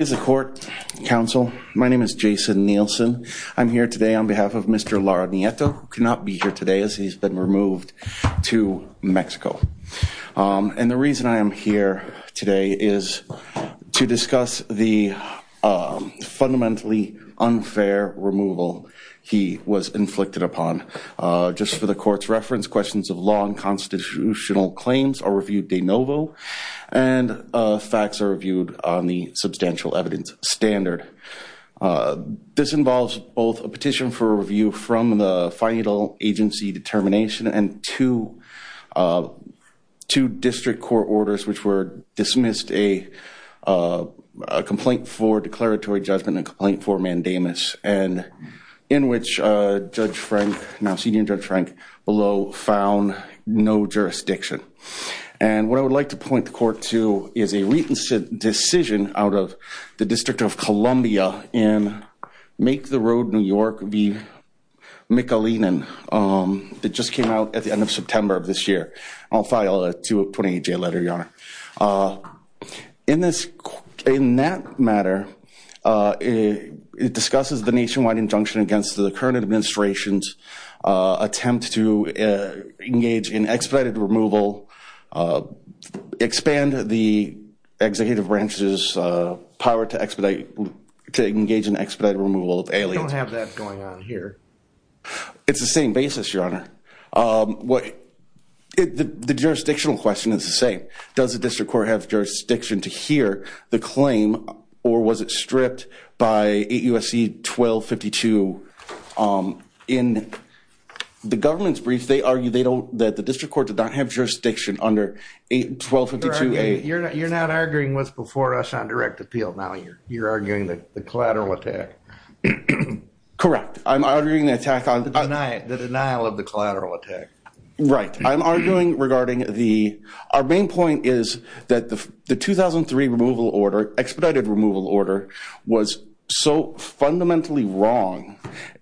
As a court counsel, my name is Jason Nielsen. I'm here today on behalf of Mr. Lara-Nieto, who cannot be here today as he's been removed to Mexico. And the reason I am here today is to discuss the fundamentally unfair removal he was inflicted upon. Just for the court's reference, questions of law and constitutional evidence standard, this involves both a petition for review from the final agency determination and two district court orders, which were dismissed a complaint for declaratory judgment and complaint for mandamus. And in which Judge Frank, now Senior Judge Frank, below found no jurisdiction. And what I would like to point the court to is a recent decision out of the District of Columbia in Make the Road New York v. McAleenan, that just came out at the end of September of this year. I'll file a 28-J letter, Your Honor. In that matter, it discusses the nationwide injunction against the current administration's attempt to engage in expedited removal, expand the executive branch's power to expedite, to engage in expedited removal of aliens. We don't have that going on here. It's the same basis, Your Honor. The jurisdictional question is the same. Does the district court have jurisdiction to hear the claim or was it stripped by 8 U.S.C. 1252 in the government's brief? They argue they don't, that the district court did not have jurisdiction under 1252-A. You're not arguing what's before us on direct appeal. Now you're arguing that the collateral attack. Correct. I'm arguing the attack on. The denial of the collateral attack. Right. I'm arguing regarding the, our main point is that the 2003 removal order, expedited removal order was so fundamentally wrong.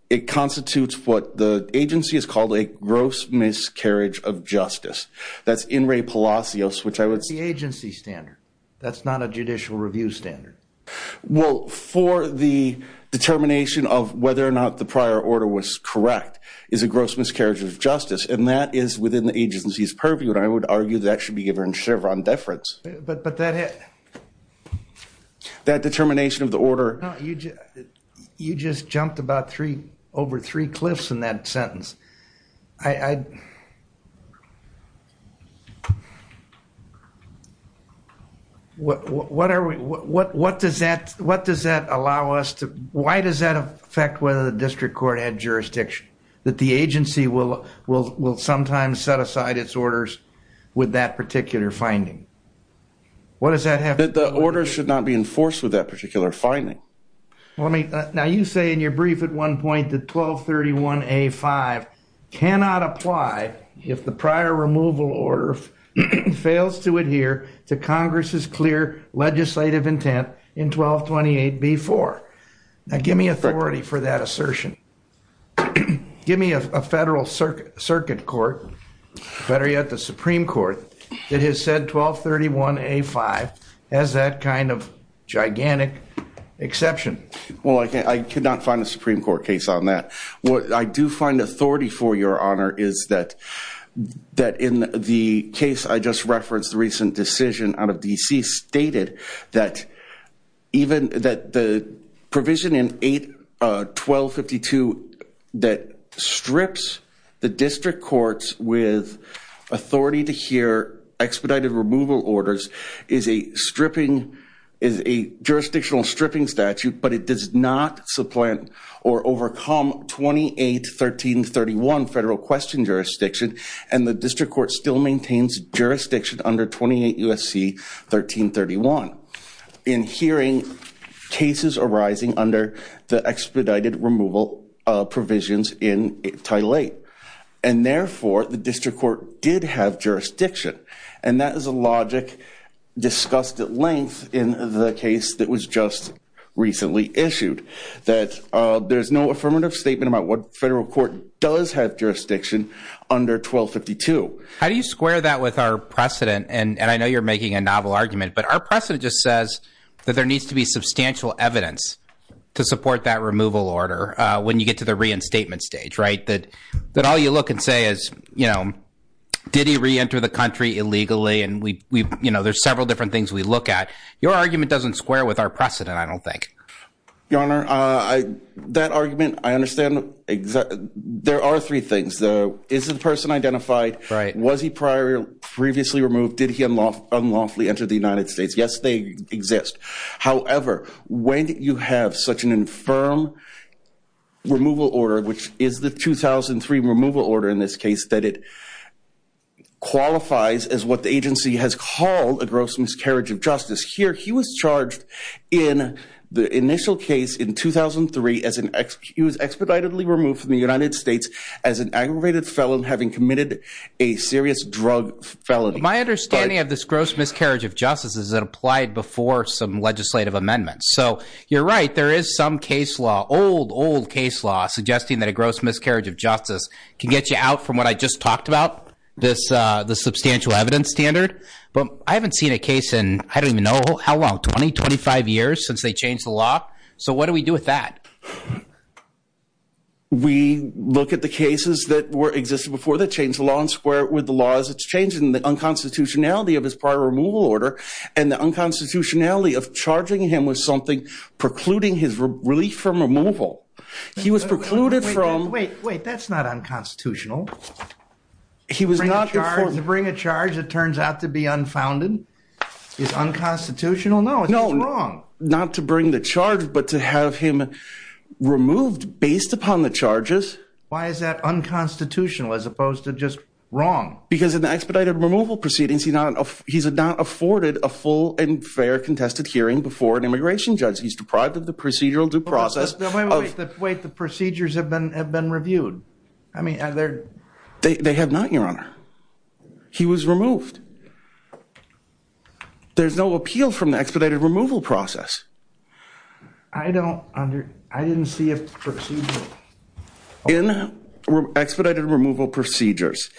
It constitutes what the agency has called a gross miscarriage of justice. That's in re Palacios, which I would. The agency standard. That's not a judicial review standard. Well, for the determination of whether or not the prior order was correct is a gross miscarriage of justice. And that is within the agency's purview. And I would argue that should be given Chevron deference. But, but that hit. That determination of the order. You just jumped about three over three cliffs in that sentence. I, what, what are we, what, what does that, what does that allow us to, why does that affect whether the district court had jurisdiction that the agency will, will, will sometimes set aside its orders with that particular finding? What does that have? The order should not be enforced with that particular finding. Well, I mean, now you say in your brief at one point, the 1231 a five cannot apply if the prior removal order fails to adhere to Congress's clear legislative intent in 1228 B4. Now, give me authority for that assertion. Give me a federal circuit circuit court, better yet, the Supreme court that has said 1231 a five has that kind of gigantic exception. Well, I can't, I could not find a Supreme court case on that. What I do find authority for your honor is that, that in the case, I just referenced the recent decision out of DC stated that even that the provision in eight 1252 that is a stripping is a jurisdictional stripping statute, but it does not supplant or overcome 28 1331 federal question jurisdiction. And the district court still maintains jurisdiction under 28 USC 1331 in hearing cases arising under the expedited removal provisions in title eight. And therefore the district court did have jurisdiction. And that is a logic discussed at length in the case that was just recently issued that there's no affirmative statement about what federal court does have jurisdiction under 1252. How do you square that with our precedent? And I know you're making a novel argument, but our precedent just says that there needs to be substantial evidence to support that removal order. When you get to the reinstatement stage, right? That, that all you look and say is, you know, did he reenter the country illegally? And we, we've, you know, there's several different things we look at your argument doesn't square with our precedent. I don't think your honor, I, that argument, I understand exactly. There are three things though. Is the person identified, right? Was he prior previously removed? Did he unlawfully entered the United States? Yes, they exist. However, when you have such an infirm removal order, which is the 2003 removal order in this case, that it qualifies as what the agency has called a gross miscarriage of justice here. He was charged in the initial case in 2003 as an ex, he was expeditedly removed from the United States as an aggravated felon, having committed a serious drug felony. My understanding of this gross miscarriage of justice is that applied before some legislative amendments. So you're right. There is some case law, old, old case law suggesting that a gross miscarriage of justice can get you out from what I just talked about. This, uh, the substantial evidence standard, but I haven't seen a case in, I don't even know how long, 20, 25 years since they changed the law. So what do we do with that? We look at the cases that were existed before that changed the law and square with the laws that's changing the unconstitutionality of his prior removal order and the unconstitutionality of charging him with something precluding his relief from removal. He was precluded from wait, wait, that's not unconstitutional. He was not charged to bring a charge. It turns out to be unfounded is unconstitutional. No, no, wrong. Not to bring the charge, but to have him removed based upon the charges. Why is that unconstitutional as opposed to just wrong? Because in the expedited removal proceedings, he's not, he's not afforded a full and fair contested hearing before an immigration judge. He's deprived of the procedural due process. Wait, the procedures have been, have been reviewed. I mean, they have not, your honor, he was removed. There's no appeal from the expedited removal process. I don't under, I didn't see a procedure. In expedited removal procedures,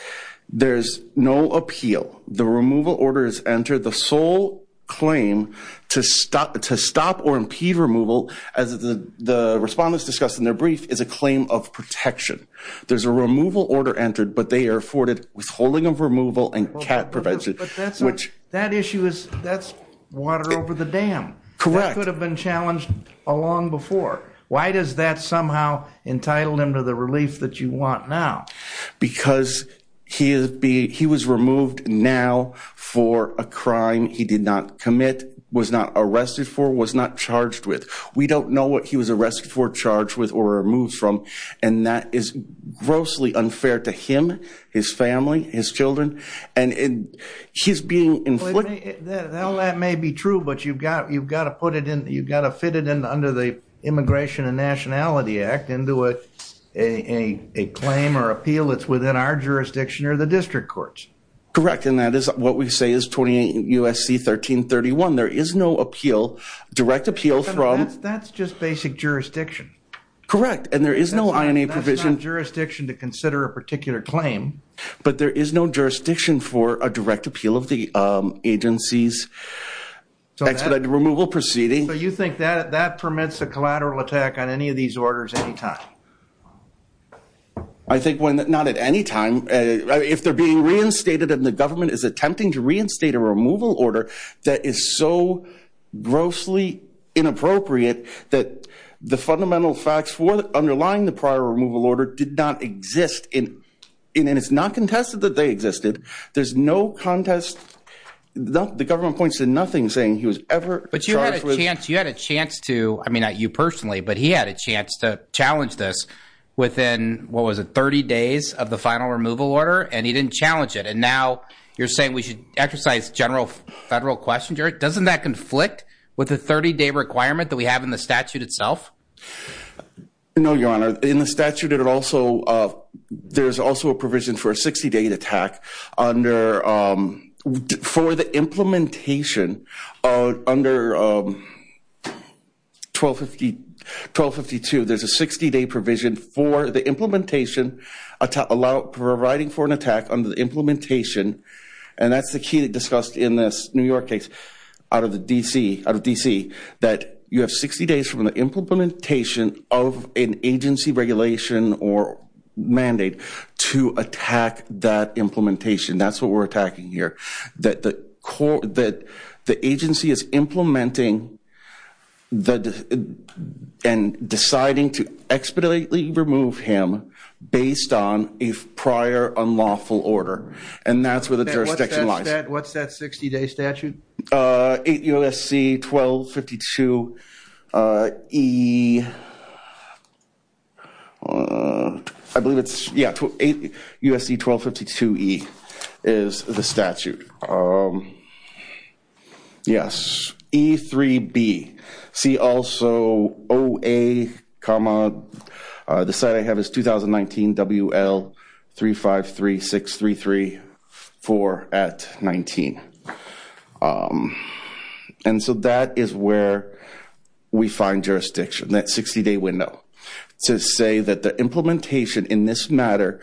there's no appeal. The removal order is entered. The sole claim to stop, to stop or impede removal as the, the respondents discussed in their brief is a claim of protection. There's a removal order entered, but they are afforded withholding of removal and cat prevention, which. That issue is, that's water over the dam. Correct. That could have been challenged a long before. Why does that somehow entitled him to the relief that you want now? Because he is being, he was removed now for a crime he did not commit, was not arrested for, was not charged with. We don't know what he was arrested for, charged with, or removed from. And that is grossly unfair to him, his family, his children. And he's being inflicted. Now that may be true, but you've got, you've got to put it in, you've got to fit it in under the immigration and nationality act into a, a, a claim or appeal. It's within our jurisdiction or the district courts. Correct. And that is what we say is 28 USC, 1331. There is no appeal, direct appeal from. That's just basic jurisdiction. Correct. And there is no INA provision jurisdiction to consider a particular claim, but there is no jurisdiction for a direct appeal of the agencies expedited removal proceeding. So you think that that permits a collateral attack on any of these orders at any time? I think when, not at any time, if they're being reinstated and the government is attempting to reinstate a removal order that is so grossly inappropriate that the fundamental facts for underlying the prior removal order did not exist in, and it's not contested that they existed. There's no contest. The government points to nothing saying he was ever. But you had a chance, you had a chance to, I mean, not you personally, but he had a chance to challenge this within, what was it? 30 days of the final removal order. And he didn't challenge it. And now you're saying we should exercise general federal question. Jared, doesn't that conflict with the 30 day requirement that we have in the statute itself? No, your honor in the statute. It also, there's also a provision for a 60 day attack under, for the implementation of under 1250, 1252. There's a 60 day provision for the implementation allow, providing for an attack under the implementation. And that's the key that discussed in this New York case out of the DC, out of DC, that you have 60 days from the implementation of an agency regulation or mandate to attack that implementation. That's what we're attacking here. That the agency is implementing and deciding to expeditely remove him based on a prior unlawful order. And that's where the jurisdiction lies. What's that 60 day statute? 8 USC 1252 E, I believe it's, yeah, 8 USC 1252 E is the statute. Yes, E3B. See also OA, the site I have is 2019 WL 3536334 at 19. And so that is where we find jurisdiction, that 60 day window to say that the implementation in this matter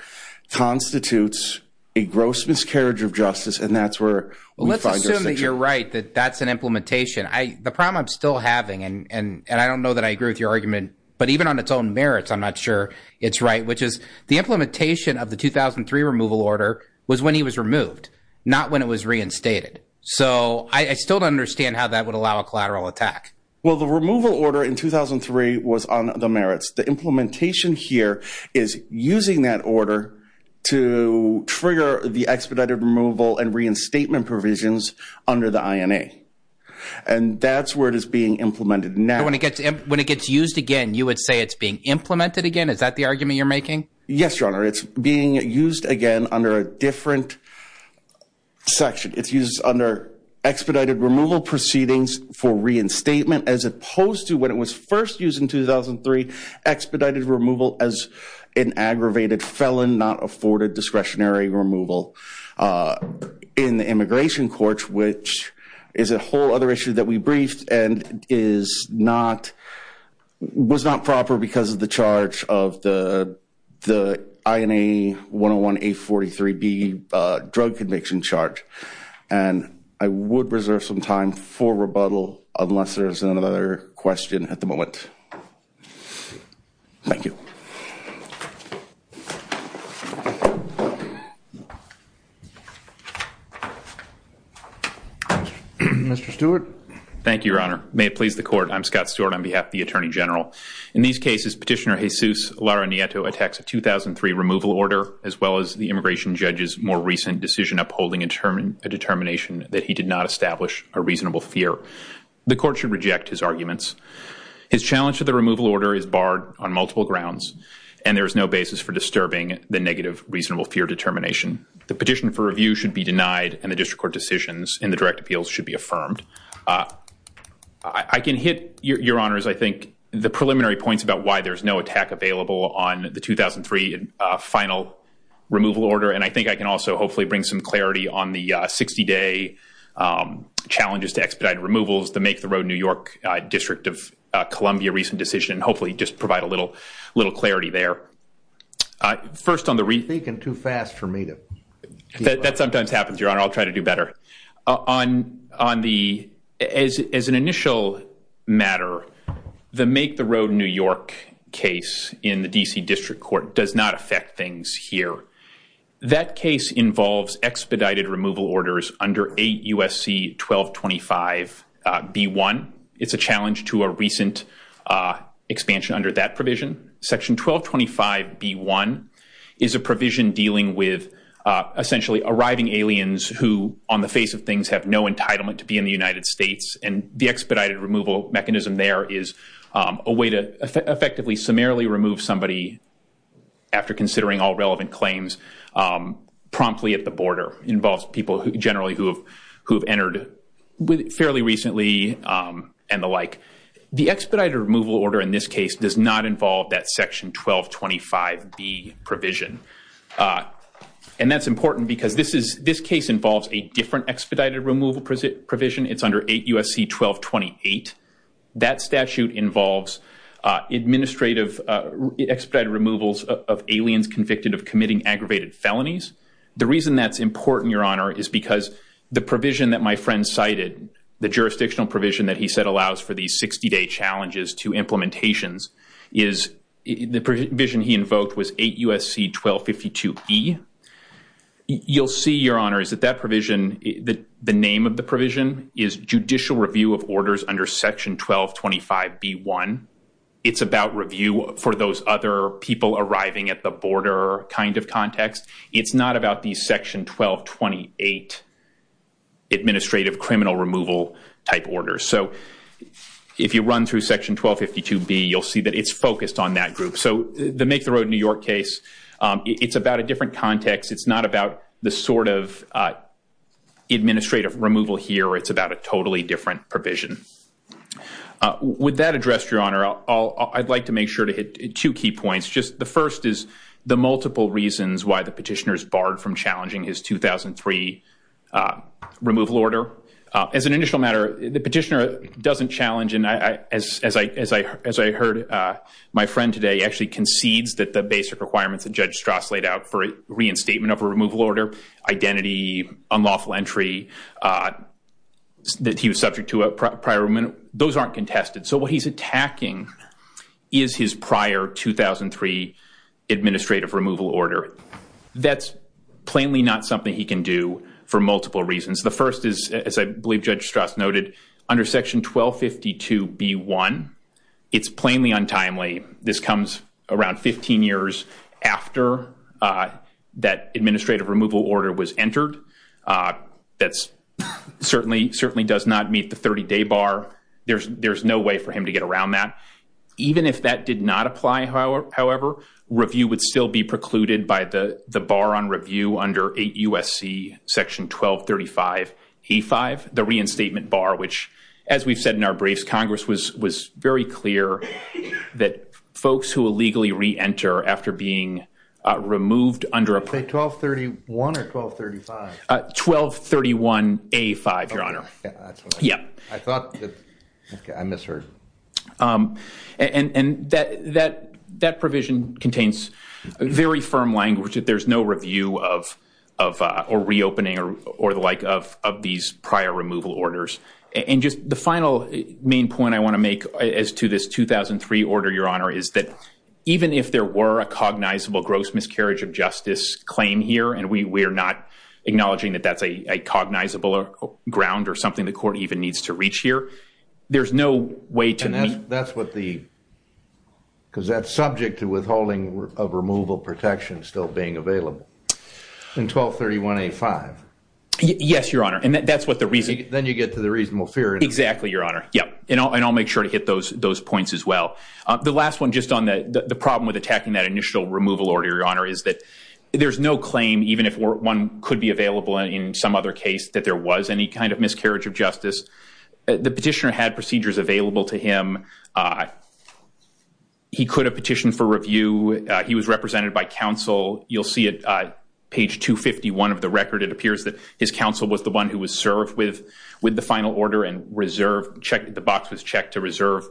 constitutes a gross miscarriage of justice. And that's where we find jurisdiction. Let's assume that you're right, that that's an implementation. The problem I'm still having, and I don't know that I agree with your argument, but even on its own merits, I'm not sure it's right, which is the implementation of the 2003 removal order was when he was removed, not when it was reinstated. So I still don't understand how that would allow a collateral attack. Well, the removal order in 2003 was on the merits. The implementation here is using that order to trigger the expedited removal and reinstatement provisions under the INA. And that's where it is being implemented now. And when it gets used again, you would say it's being implemented again? Is that the argument you're making? Yes, Your Honor. It's being used again under a different section. It's used under expedited removal proceedings for reinstatement as opposed to when it was first used in 2003, expedited removal as an aggravated felon, not afforded discretionary removal in the immigration courts, which is a whole other issue that we briefed and was not proper because of the charge of the INA 101A43B drug conviction charge. And I would reserve some time for rebuttal unless there's another question at the moment. Thank you. Mr. Stewart. Thank you, Your Honor. May it please the court. I'm Scott Stewart on behalf of the Attorney General. In these cases, Petitioner Jesus Lara Nieto attacks a 2003 removal order as well as the immigration judge's more recent decision upholding a determination that he did not establish a reasonable fear. The court should reject his arguments. His challenge to the removal order is barred on multiple grounds, and there is no basis for disturbing the negative reasonable fear determination. The petition for review should be denied, and the district court decisions in the direct appeals should be affirmed. I can hit, Your Honors, I think, the preliminary points about why there's no attack available on the 2003 final removal order. And I think I can also hopefully bring some clarity on the 60-day challenges to expedited removals that make the Rhode New York District of Columbia recent decision, and hopefully just provide a little clarity there. First on the reason. You're thinking too fast for me to get right. That sometimes happens, Your Honor. I'll try to do better. On the, as an initial matter, the Make the Rhode New York case in the D.C. District Court does not affect things here. That case involves expedited removal orders under 8 U.S.C. 1225 B-1. It's a challenge to a recent expansion under that provision. Section 1225 B-1 is a provision dealing with essentially arriving aliens who, on the face of things, have no entitlement to be in the United States. And the expedited removal mechanism there is a way to effectively summarily remove somebody after considering all relevant claims promptly at the border. It involves people generally who have entered fairly recently and the like. The expedited removal order in this case does not involve that section 1225 B provision. And that's important because this case involves a different expedited removal provision. It's under 8 U.S.C. 1228. That statute involves administrative expedited removals of aliens convicted of committing aggravated felonies. The reason that's important, Your Honor, is because the provision that my friend cited, the jurisdictional provision that he said allows for these 60-day challenges to implementations, is the provision he invoked was 8 U.S.C. 1252 E. You'll see, Your Honor, is that that provision, the name of the provision, is judicial review of orders under section 1225 B-1. It's about review for those other people arriving at the border kind of context. It's not about these section 1228 administrative criminal removal type orders. So if you run through section 1252 B, you'll see that it's focused on that group. So the Make the Road New York case, it's about a different context. It's not about the sort of administrative removal here. It's about a totally different provision. With that addressed, Your Honor, I'd like to make sure to hit two key points. The first is the multiple reasons why the petitioner is barred from challenging his 2003 removal order. As an initial matter, the petitioner doesn't challenge. And as I heard, my friend today actually concedes that the basic requirements that Judge Strass laid out for reinstatement of a removal order, identity, unlawful entry, that he was subject to a prior removal, those aren't contested. What he's attacking is his prior 2003 administrative removal order. That's plainly not something he can do for multiple reasons. The first is, as I believe Judge Strass noted, under section 1252 B-1, it's plainly untimely. This comes around 15 years after that administrative removal order was entered. That certainly does not meet the 30-day bar. There's no way for him to get around that. Even if that did not apply, however, review would still be precluded by the bar on review under 8 U.S.C. section 1235 A-5, the reinstatement bar, which, as we've said in our briefs, Congress was very clear that folks who illegally re-enter after being removed under a- Say 1231 or 1235. 1231 A-5, Your Honor. Yeah, that's what I- Yeah. I thought that- Okay, I misheard. And that provision contains very firm language that there's no review or reopening or the like of these prior removal orders. The final main point I want to make as to this 2003 order, Your Honor, is that even if there were a cognizable gross miscarriage of justice claim here, and we are not acknowledging that that's a cognizable ground or something the court even needs to reach here, there's no way to- And that's what the- Because that's subject to withholding of removal protection still being available in 1231 A-5. Yes, Your Honor. And that's what the reason- Then you get to the reasonable fear. Exactly, Your Honor. Yep. And I'll make sure to hit those points as well. The last one, just on the problem with attacking that initial removal order, Your Honor, is that there's no claim, even if one could be available in some other case, that there was any kind of miscarriage of justice. The petitioner had procedures available to him. He could have petitioned for review. He was represented by counsel. You'll see it page 251 of the record. It appears that his counsel was the one who was served with the final order and the box was checked to reserve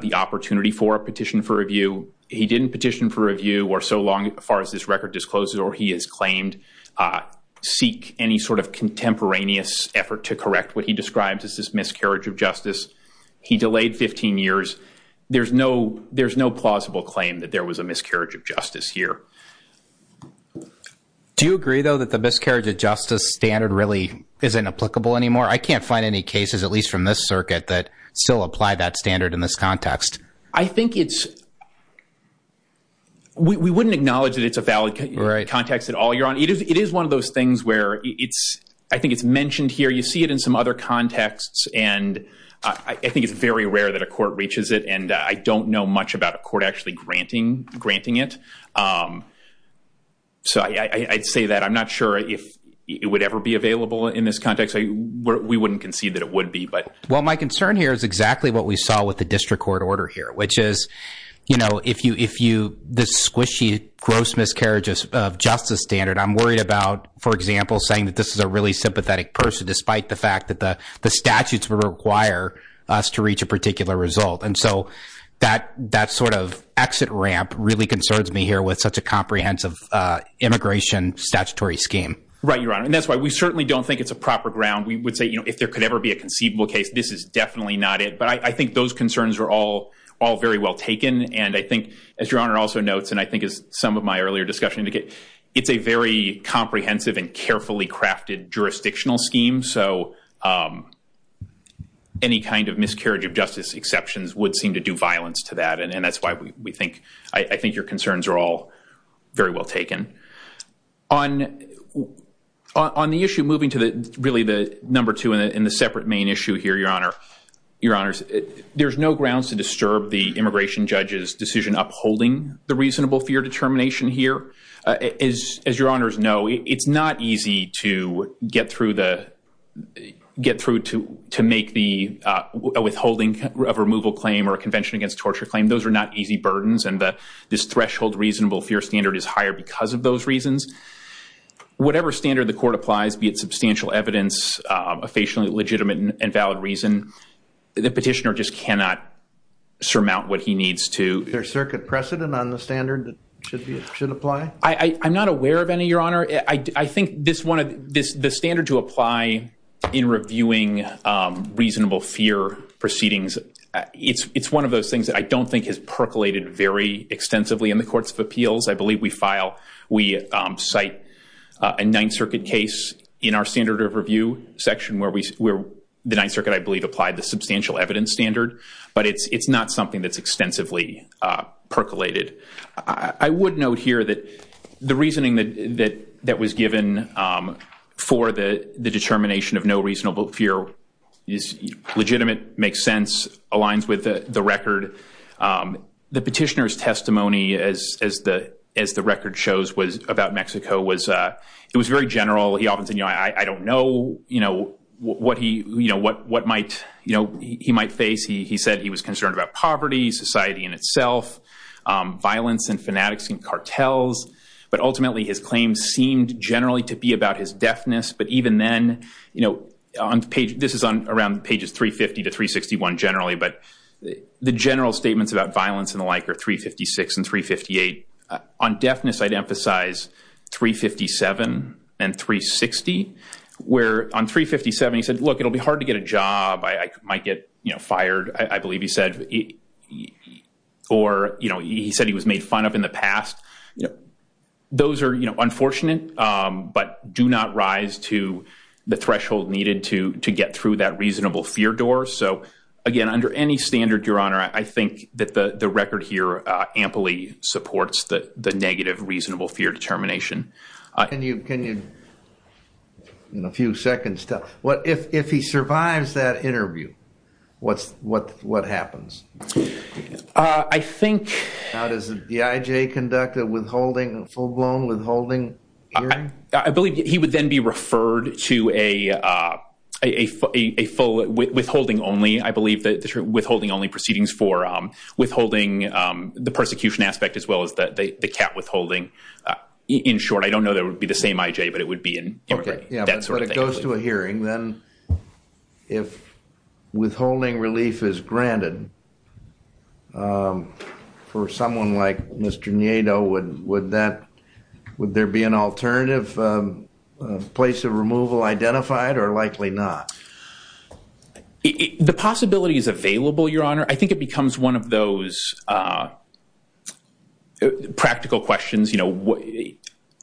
the opportunity for a petition for review. He didn't petition for review for so long, as far as this record discloses, or he has claimed seek any sort of contemporaneous effort to correct what he describes as this miscarriage of justice. He delayed 15 years. There's no plausible claim that there was a miscarriage of justice here. Do you agree, though, that the miscarriage of justice standard really isn't applicable anymore? I can't find any cases, at least from this circuit, that still apply that standard in this context. I think we wouldn't acknowledge that it's a valid context at all, Your Honor. It is one of those things where I think it's mentioned here. You see it in some other contexts. And I think it's very rare that a court reaches it. And I don't know much about a court actually granting it. So I'd say that I'm not sure if it would ever be available in this context. We wouldn't concede that it would be. Well, my concern here is exactly what we saw with the district court order here, which is this squishy, gross miscarriage of justice standard. I'm worried about, for example, saying that this is a really sympathetic person, despite the fact that the statutes would require us to reach a particular result. And so that sort of exit ramp really concerns me here with such a comprehensive immigration statutory scheme. Right, Your Honor. And that's why we certainly don't think it's a proper ground. We would say, if there could ever be a conceivable case, this is definitely not it. But I think those concerns are all very well taken. And I think, as Your Honor also notes, and I think as some of my earlier discussion indicated, it's a very comprehensive and carefully crafted jurisdictional scheme. So any kind of miscarriage of justice exceptions would seem to do violence to that. And that's why I think your concerns are all very well taken. On the issue, moving to really the number two in the separate main issue here, Your Honor. Your Honors, there's no grounds to disturb the immigration judge's decision upholding the reasonable fear determination here. As Your Honors know, it's not easy to get through to make the withholding of removal claim or a convention against torture claim. Those are not easy burdens. And this threshold reasonable fear standard is higher because of those reasons. Whatever standard the court applies, be it substantial evidence, a facially legitimate and valid reason, the petitioner just cannot surmount what he needs to. Is there a circuit precedent on the standard that should apply? I'm not aware of any, Your Honor. I think the standard to apply in reviewing reasonable fear proceedings, it's one of those things that I don't think has percolated very extensively in the courts of appeals. I believe we cite a Ninth Circuit case in our standard of review section where the Ninth Circuit, I believe, applied the substantial evidence standard. But it's not something that's extensively percolated. I would note here that the reasoning that was given for the determination of no reasonable fear is legitimate, makes sense, aligns with the record. The petitioner's testimony, as the record shows, was about Mexico. It was very general. He often said, I don't know what he might face. He said he was concerned about poverty, society in itself, violence, and fanatics, and cartels. But ultimately, his claims seemed generally to be about his deafness. But even then, this is around pages 350 to 361 generally. But the general statements about violence and the like are 356 and 358. On deafness, I'd emphasize 357 and 360, where on 357 he said, look, it'll be hard to get a job. I might get fired, I believe he said. Or he said he was made fun of in the past. You know, those are unfortunate, but do not rise to the threshold needed to get through that reasonable fear door. So again, under any standard, Your Honor, I think that the record here amply supports the negative reasonable fear determination. Can you, in a few seconds, if he survives that interview, what happens? I think. Now, does the IJ conduct a withholding, full-blown withholding hearing? I believe he would then be referred to a withholding only. I believe that withholding only proceedings for withholding the persecution aspect, as well as the cat withholding. In short, I don't know that it would be the same IJ, but it would be in that sort of thing. If it goes to a hearing, then if withholding relief is granted, for someone like Mr. Nieto, would there be an alternative place of removal identified, or likely not? The possibility is available, Your Honor. I think it becomes one of those practical questions.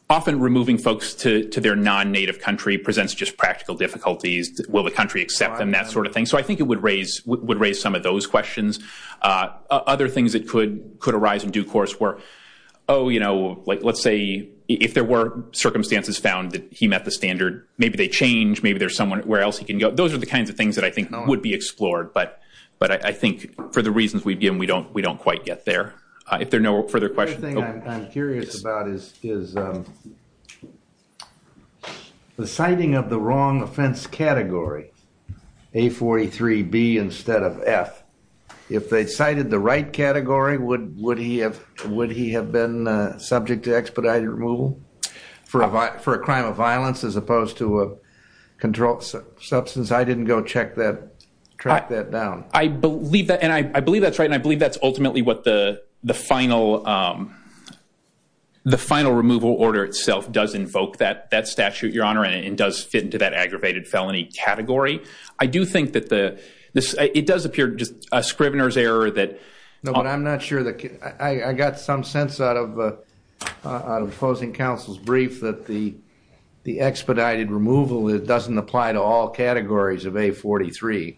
Often, removing folks to their non-native country presents just practical difficulties. Will the country accept them? That sort of thing. So I think it would raise some of those questions. Other things that could arise in due course were, oh, let's say if there were circumstances found that he met the standard, maybe they change. Maybe there's someone where else he can go. Those are the kinds of things that I think would be explored. But I think for the reasons we've given, we don't quite get there. If there are no further questions. I'm curious about is the citing of the wrong offense category, A43B instead of F. If they cited the right category, would he have been subject to expedited removal for a crime of violence as opposed to a controlled substance? I didn't go track that down. I believe that. I believe that's ultimately what the final removal order itself does invoke that statute, Your Honor, and does fit into that aggravated felony category. I do think that it does appear just a scrivener's error that- No, but I'm not sure that I got some sense out of opposing counsel's brief that the expedited removal doesn't apply to all categories of A43.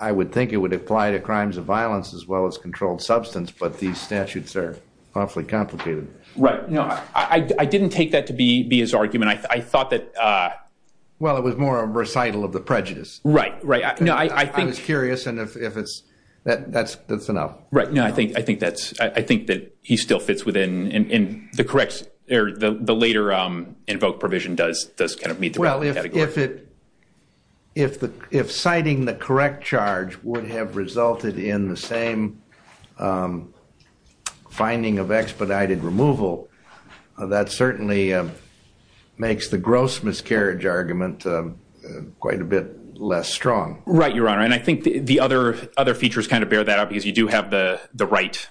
I would think it would apply to crimes of violence as well as controlled substance, but these statutes are awfully complicated. Right. No, I didn't take that to be his argument. I thought that- Well, it was more a recital of the prejudice. Right, right. No, I think- I was curious, and if it's- that's enough. Right. No, I think that he still fits within the correct- or the later invoke provision does kind of meet the right category. If citing the correct charge would have resulted in the same finding of expedited removal, that certainly makes the gross miscarriage argument quite a bit less strong. Right, Your Honor, and I think the other features kind of bear that out because you do have the right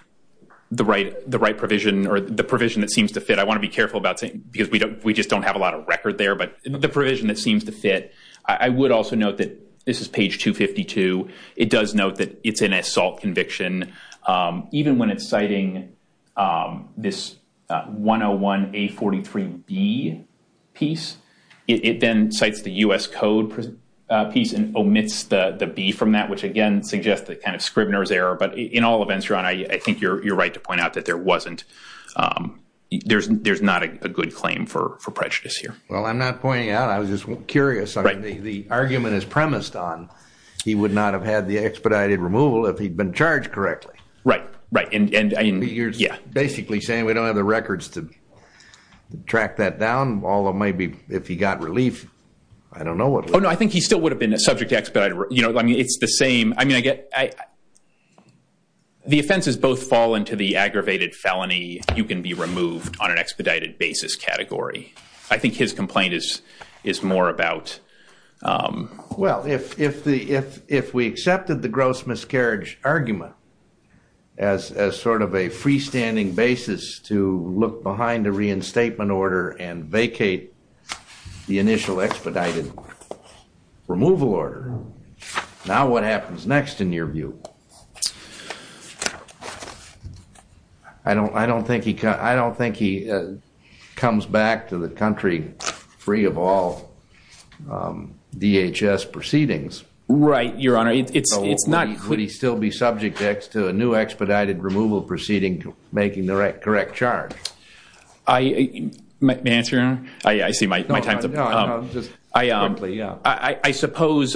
provision or the provision that seems to fit. I want to be careful about saying- because we just don't have a lot of record there, the provision that seems to fit. I would also note that this is page 252. It does note that it's an assault conviction. Even when it's citing this 101A43B piece, it then cites the U.S. Code piece and omits the B from that, which again suggests that kind of Scribner's error. But in all events, Your Honor, I think you're right to point out that there wasn't- there's not a good claim for prejudice here. Well, I'm not pointing it out. I was just curious. The argument is premised on he would not have had the expedited removal if he'd been charged correctly. Right, right. Basically saying we don't have the records to track that down, although maybe if he got relief, I don't know what- Oh, no. I think he still would have been subject to expedited- it's the same. The offenses both fall into the aggravated felony, you can be removed on an expedited basis category. I think his complaint is more about- Well, if we accepted the gross miscarriage argument as sort of a freestanding basis to look behind the reinstatement order and vacate the initial expedited removal order, now what happens next in your view? I don't think he comes back to the country free of all DHS proceedings. Right, Your Honor. It's not- So would he still be subject to a new expedited removal proceeding making the correct charge? May I answer, Your Honor? I see my time's up. No, no, no. Just quickly, yeah. I suppose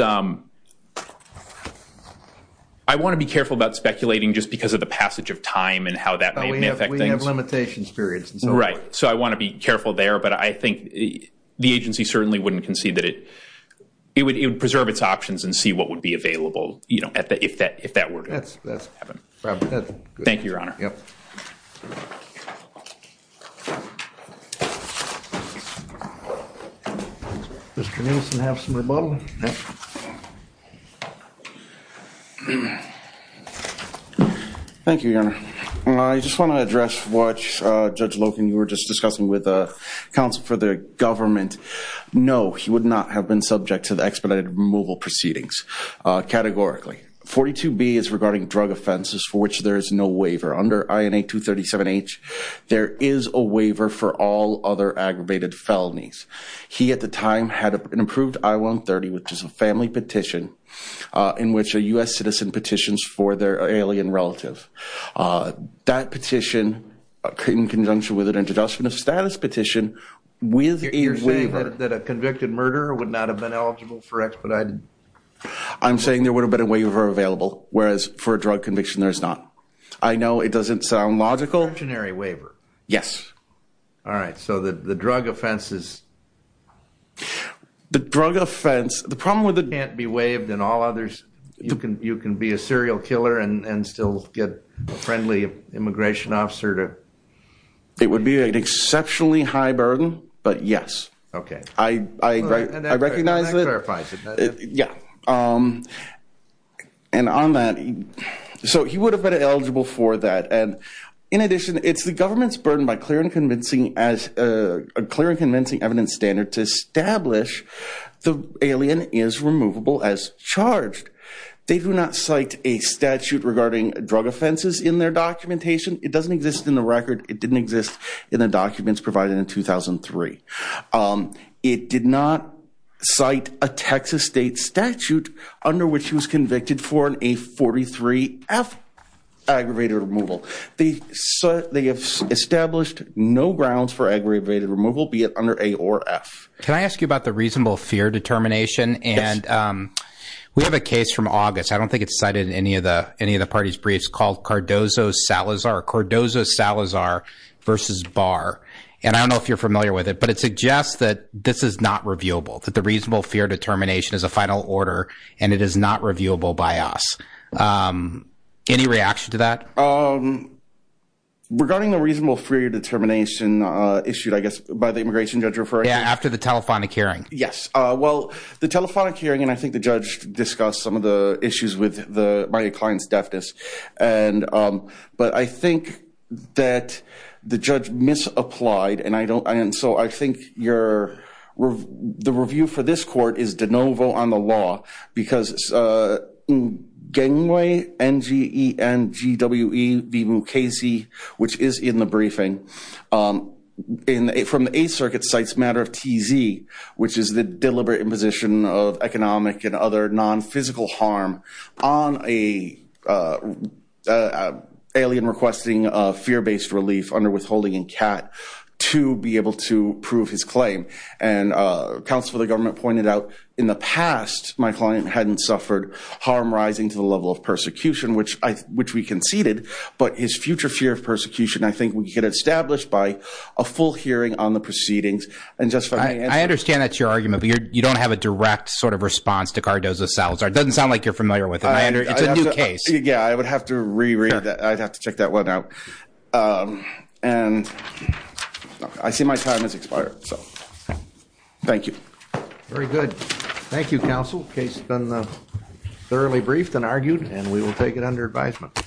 I want to be careful about speculating just because of the passage of time and how that may affect things. We have limitations periods and so forth. Right. So I want to be careful there, but I think the agency certainly wouldn't concede that it would preserve its options and see what would be available if that were to happen. Thank you, Your Honor. Yep. Mr. Nielsen, have some rebuttal? Thank you, Your Honor. I just want to address what Judge Loken, you were just discussing with the counsel for the government. No, he would not have been subject to the expedited removal proceedings, categorically. 42B is regarding drug offenses for which there is no waiver. Under INA 237H, there is a waiver for all other aggravated felonies. He, at the time, had an approved I-130, which is a family petition in which a U.S. citizen petitions for their alien relative. That petition, in conjunction with an introduction of status petition, with a waiver- You're saying that a convicted murderer would not have been eligible for expedited? I'm saying there would have been a waiver available, whereas for a drug conviction, there's not. I know it doesn't sound logical- Conventionary waiver? Yes. All right, so the drug offense is- The drug offense, the problem with it- Can't be waived and all others, you can be a serial killer and still get a friendly immigration officer to- It would be an exceptionally high burden, but yes. Okay. I recognize that- That clarifies it. Yeah. On that, so he would have been eligible for that. In addition, it's the government's burden by a clear and convincing evidence standard to establish the alien is removable as charged. They do not cite a statute regarding drug offenses in their documentation. It doesn't exist in the record. It didn't exist in the documents provided in 2003. It did not cite a Texas state statute under which he was convicted for an A43F aggravated removal. They have established no grounds for aggravated removal, be it under A or F. Can I ask you about the reasonable fear determination? Yes. We have a case from August, I don't think it's cited in any of the party's briefs, called Cardozo-Salazar versus Barr. And I don't know if you're familiar with it, but it suggests that this is not reviewable, that the reasonable fear determination is a final order and it is not reviewable by us. Any reaction to that? Regarding the reasonable fear determination issued, I guess, by the immigration judge referring- Yeah, after the telephonic hearing. Yes. Well, the telephonic hearing, and I think the judge discussed some of the issues with my client's deafness. But I think that the judge misapplied, and so I think the review for this court is de novo on the law. Because Nguengwe, N-G-E-N-G-W-E-V-U-K-Z, which is in the briefing, from the Eighth Circuit, cites matter of TZ, which is the deliberate imposition of economic and other physical harm on an alien requesting fear-based relief under withholding in CAT to be able to prove his claim. And counsel for the government pointed out, in the past, my client hadn't suffered harm rising to the level of persecution, which we conceded. But his future fear of persecution, I think, we could establish by a full hearing on the proceedings. And just for- I understand that's your argument, but you don't have a direct sort of response to Cardozo-Salazar. It doesn't sound like you're familiar with him. I under- It's a new case. Yeah, I would have to reread that. I'd have to check that one out. And I see my time has expired. So thank you. Very good. Thank you, counsel. Case has been thoroughly briefed and argued, and we will take it under advisement.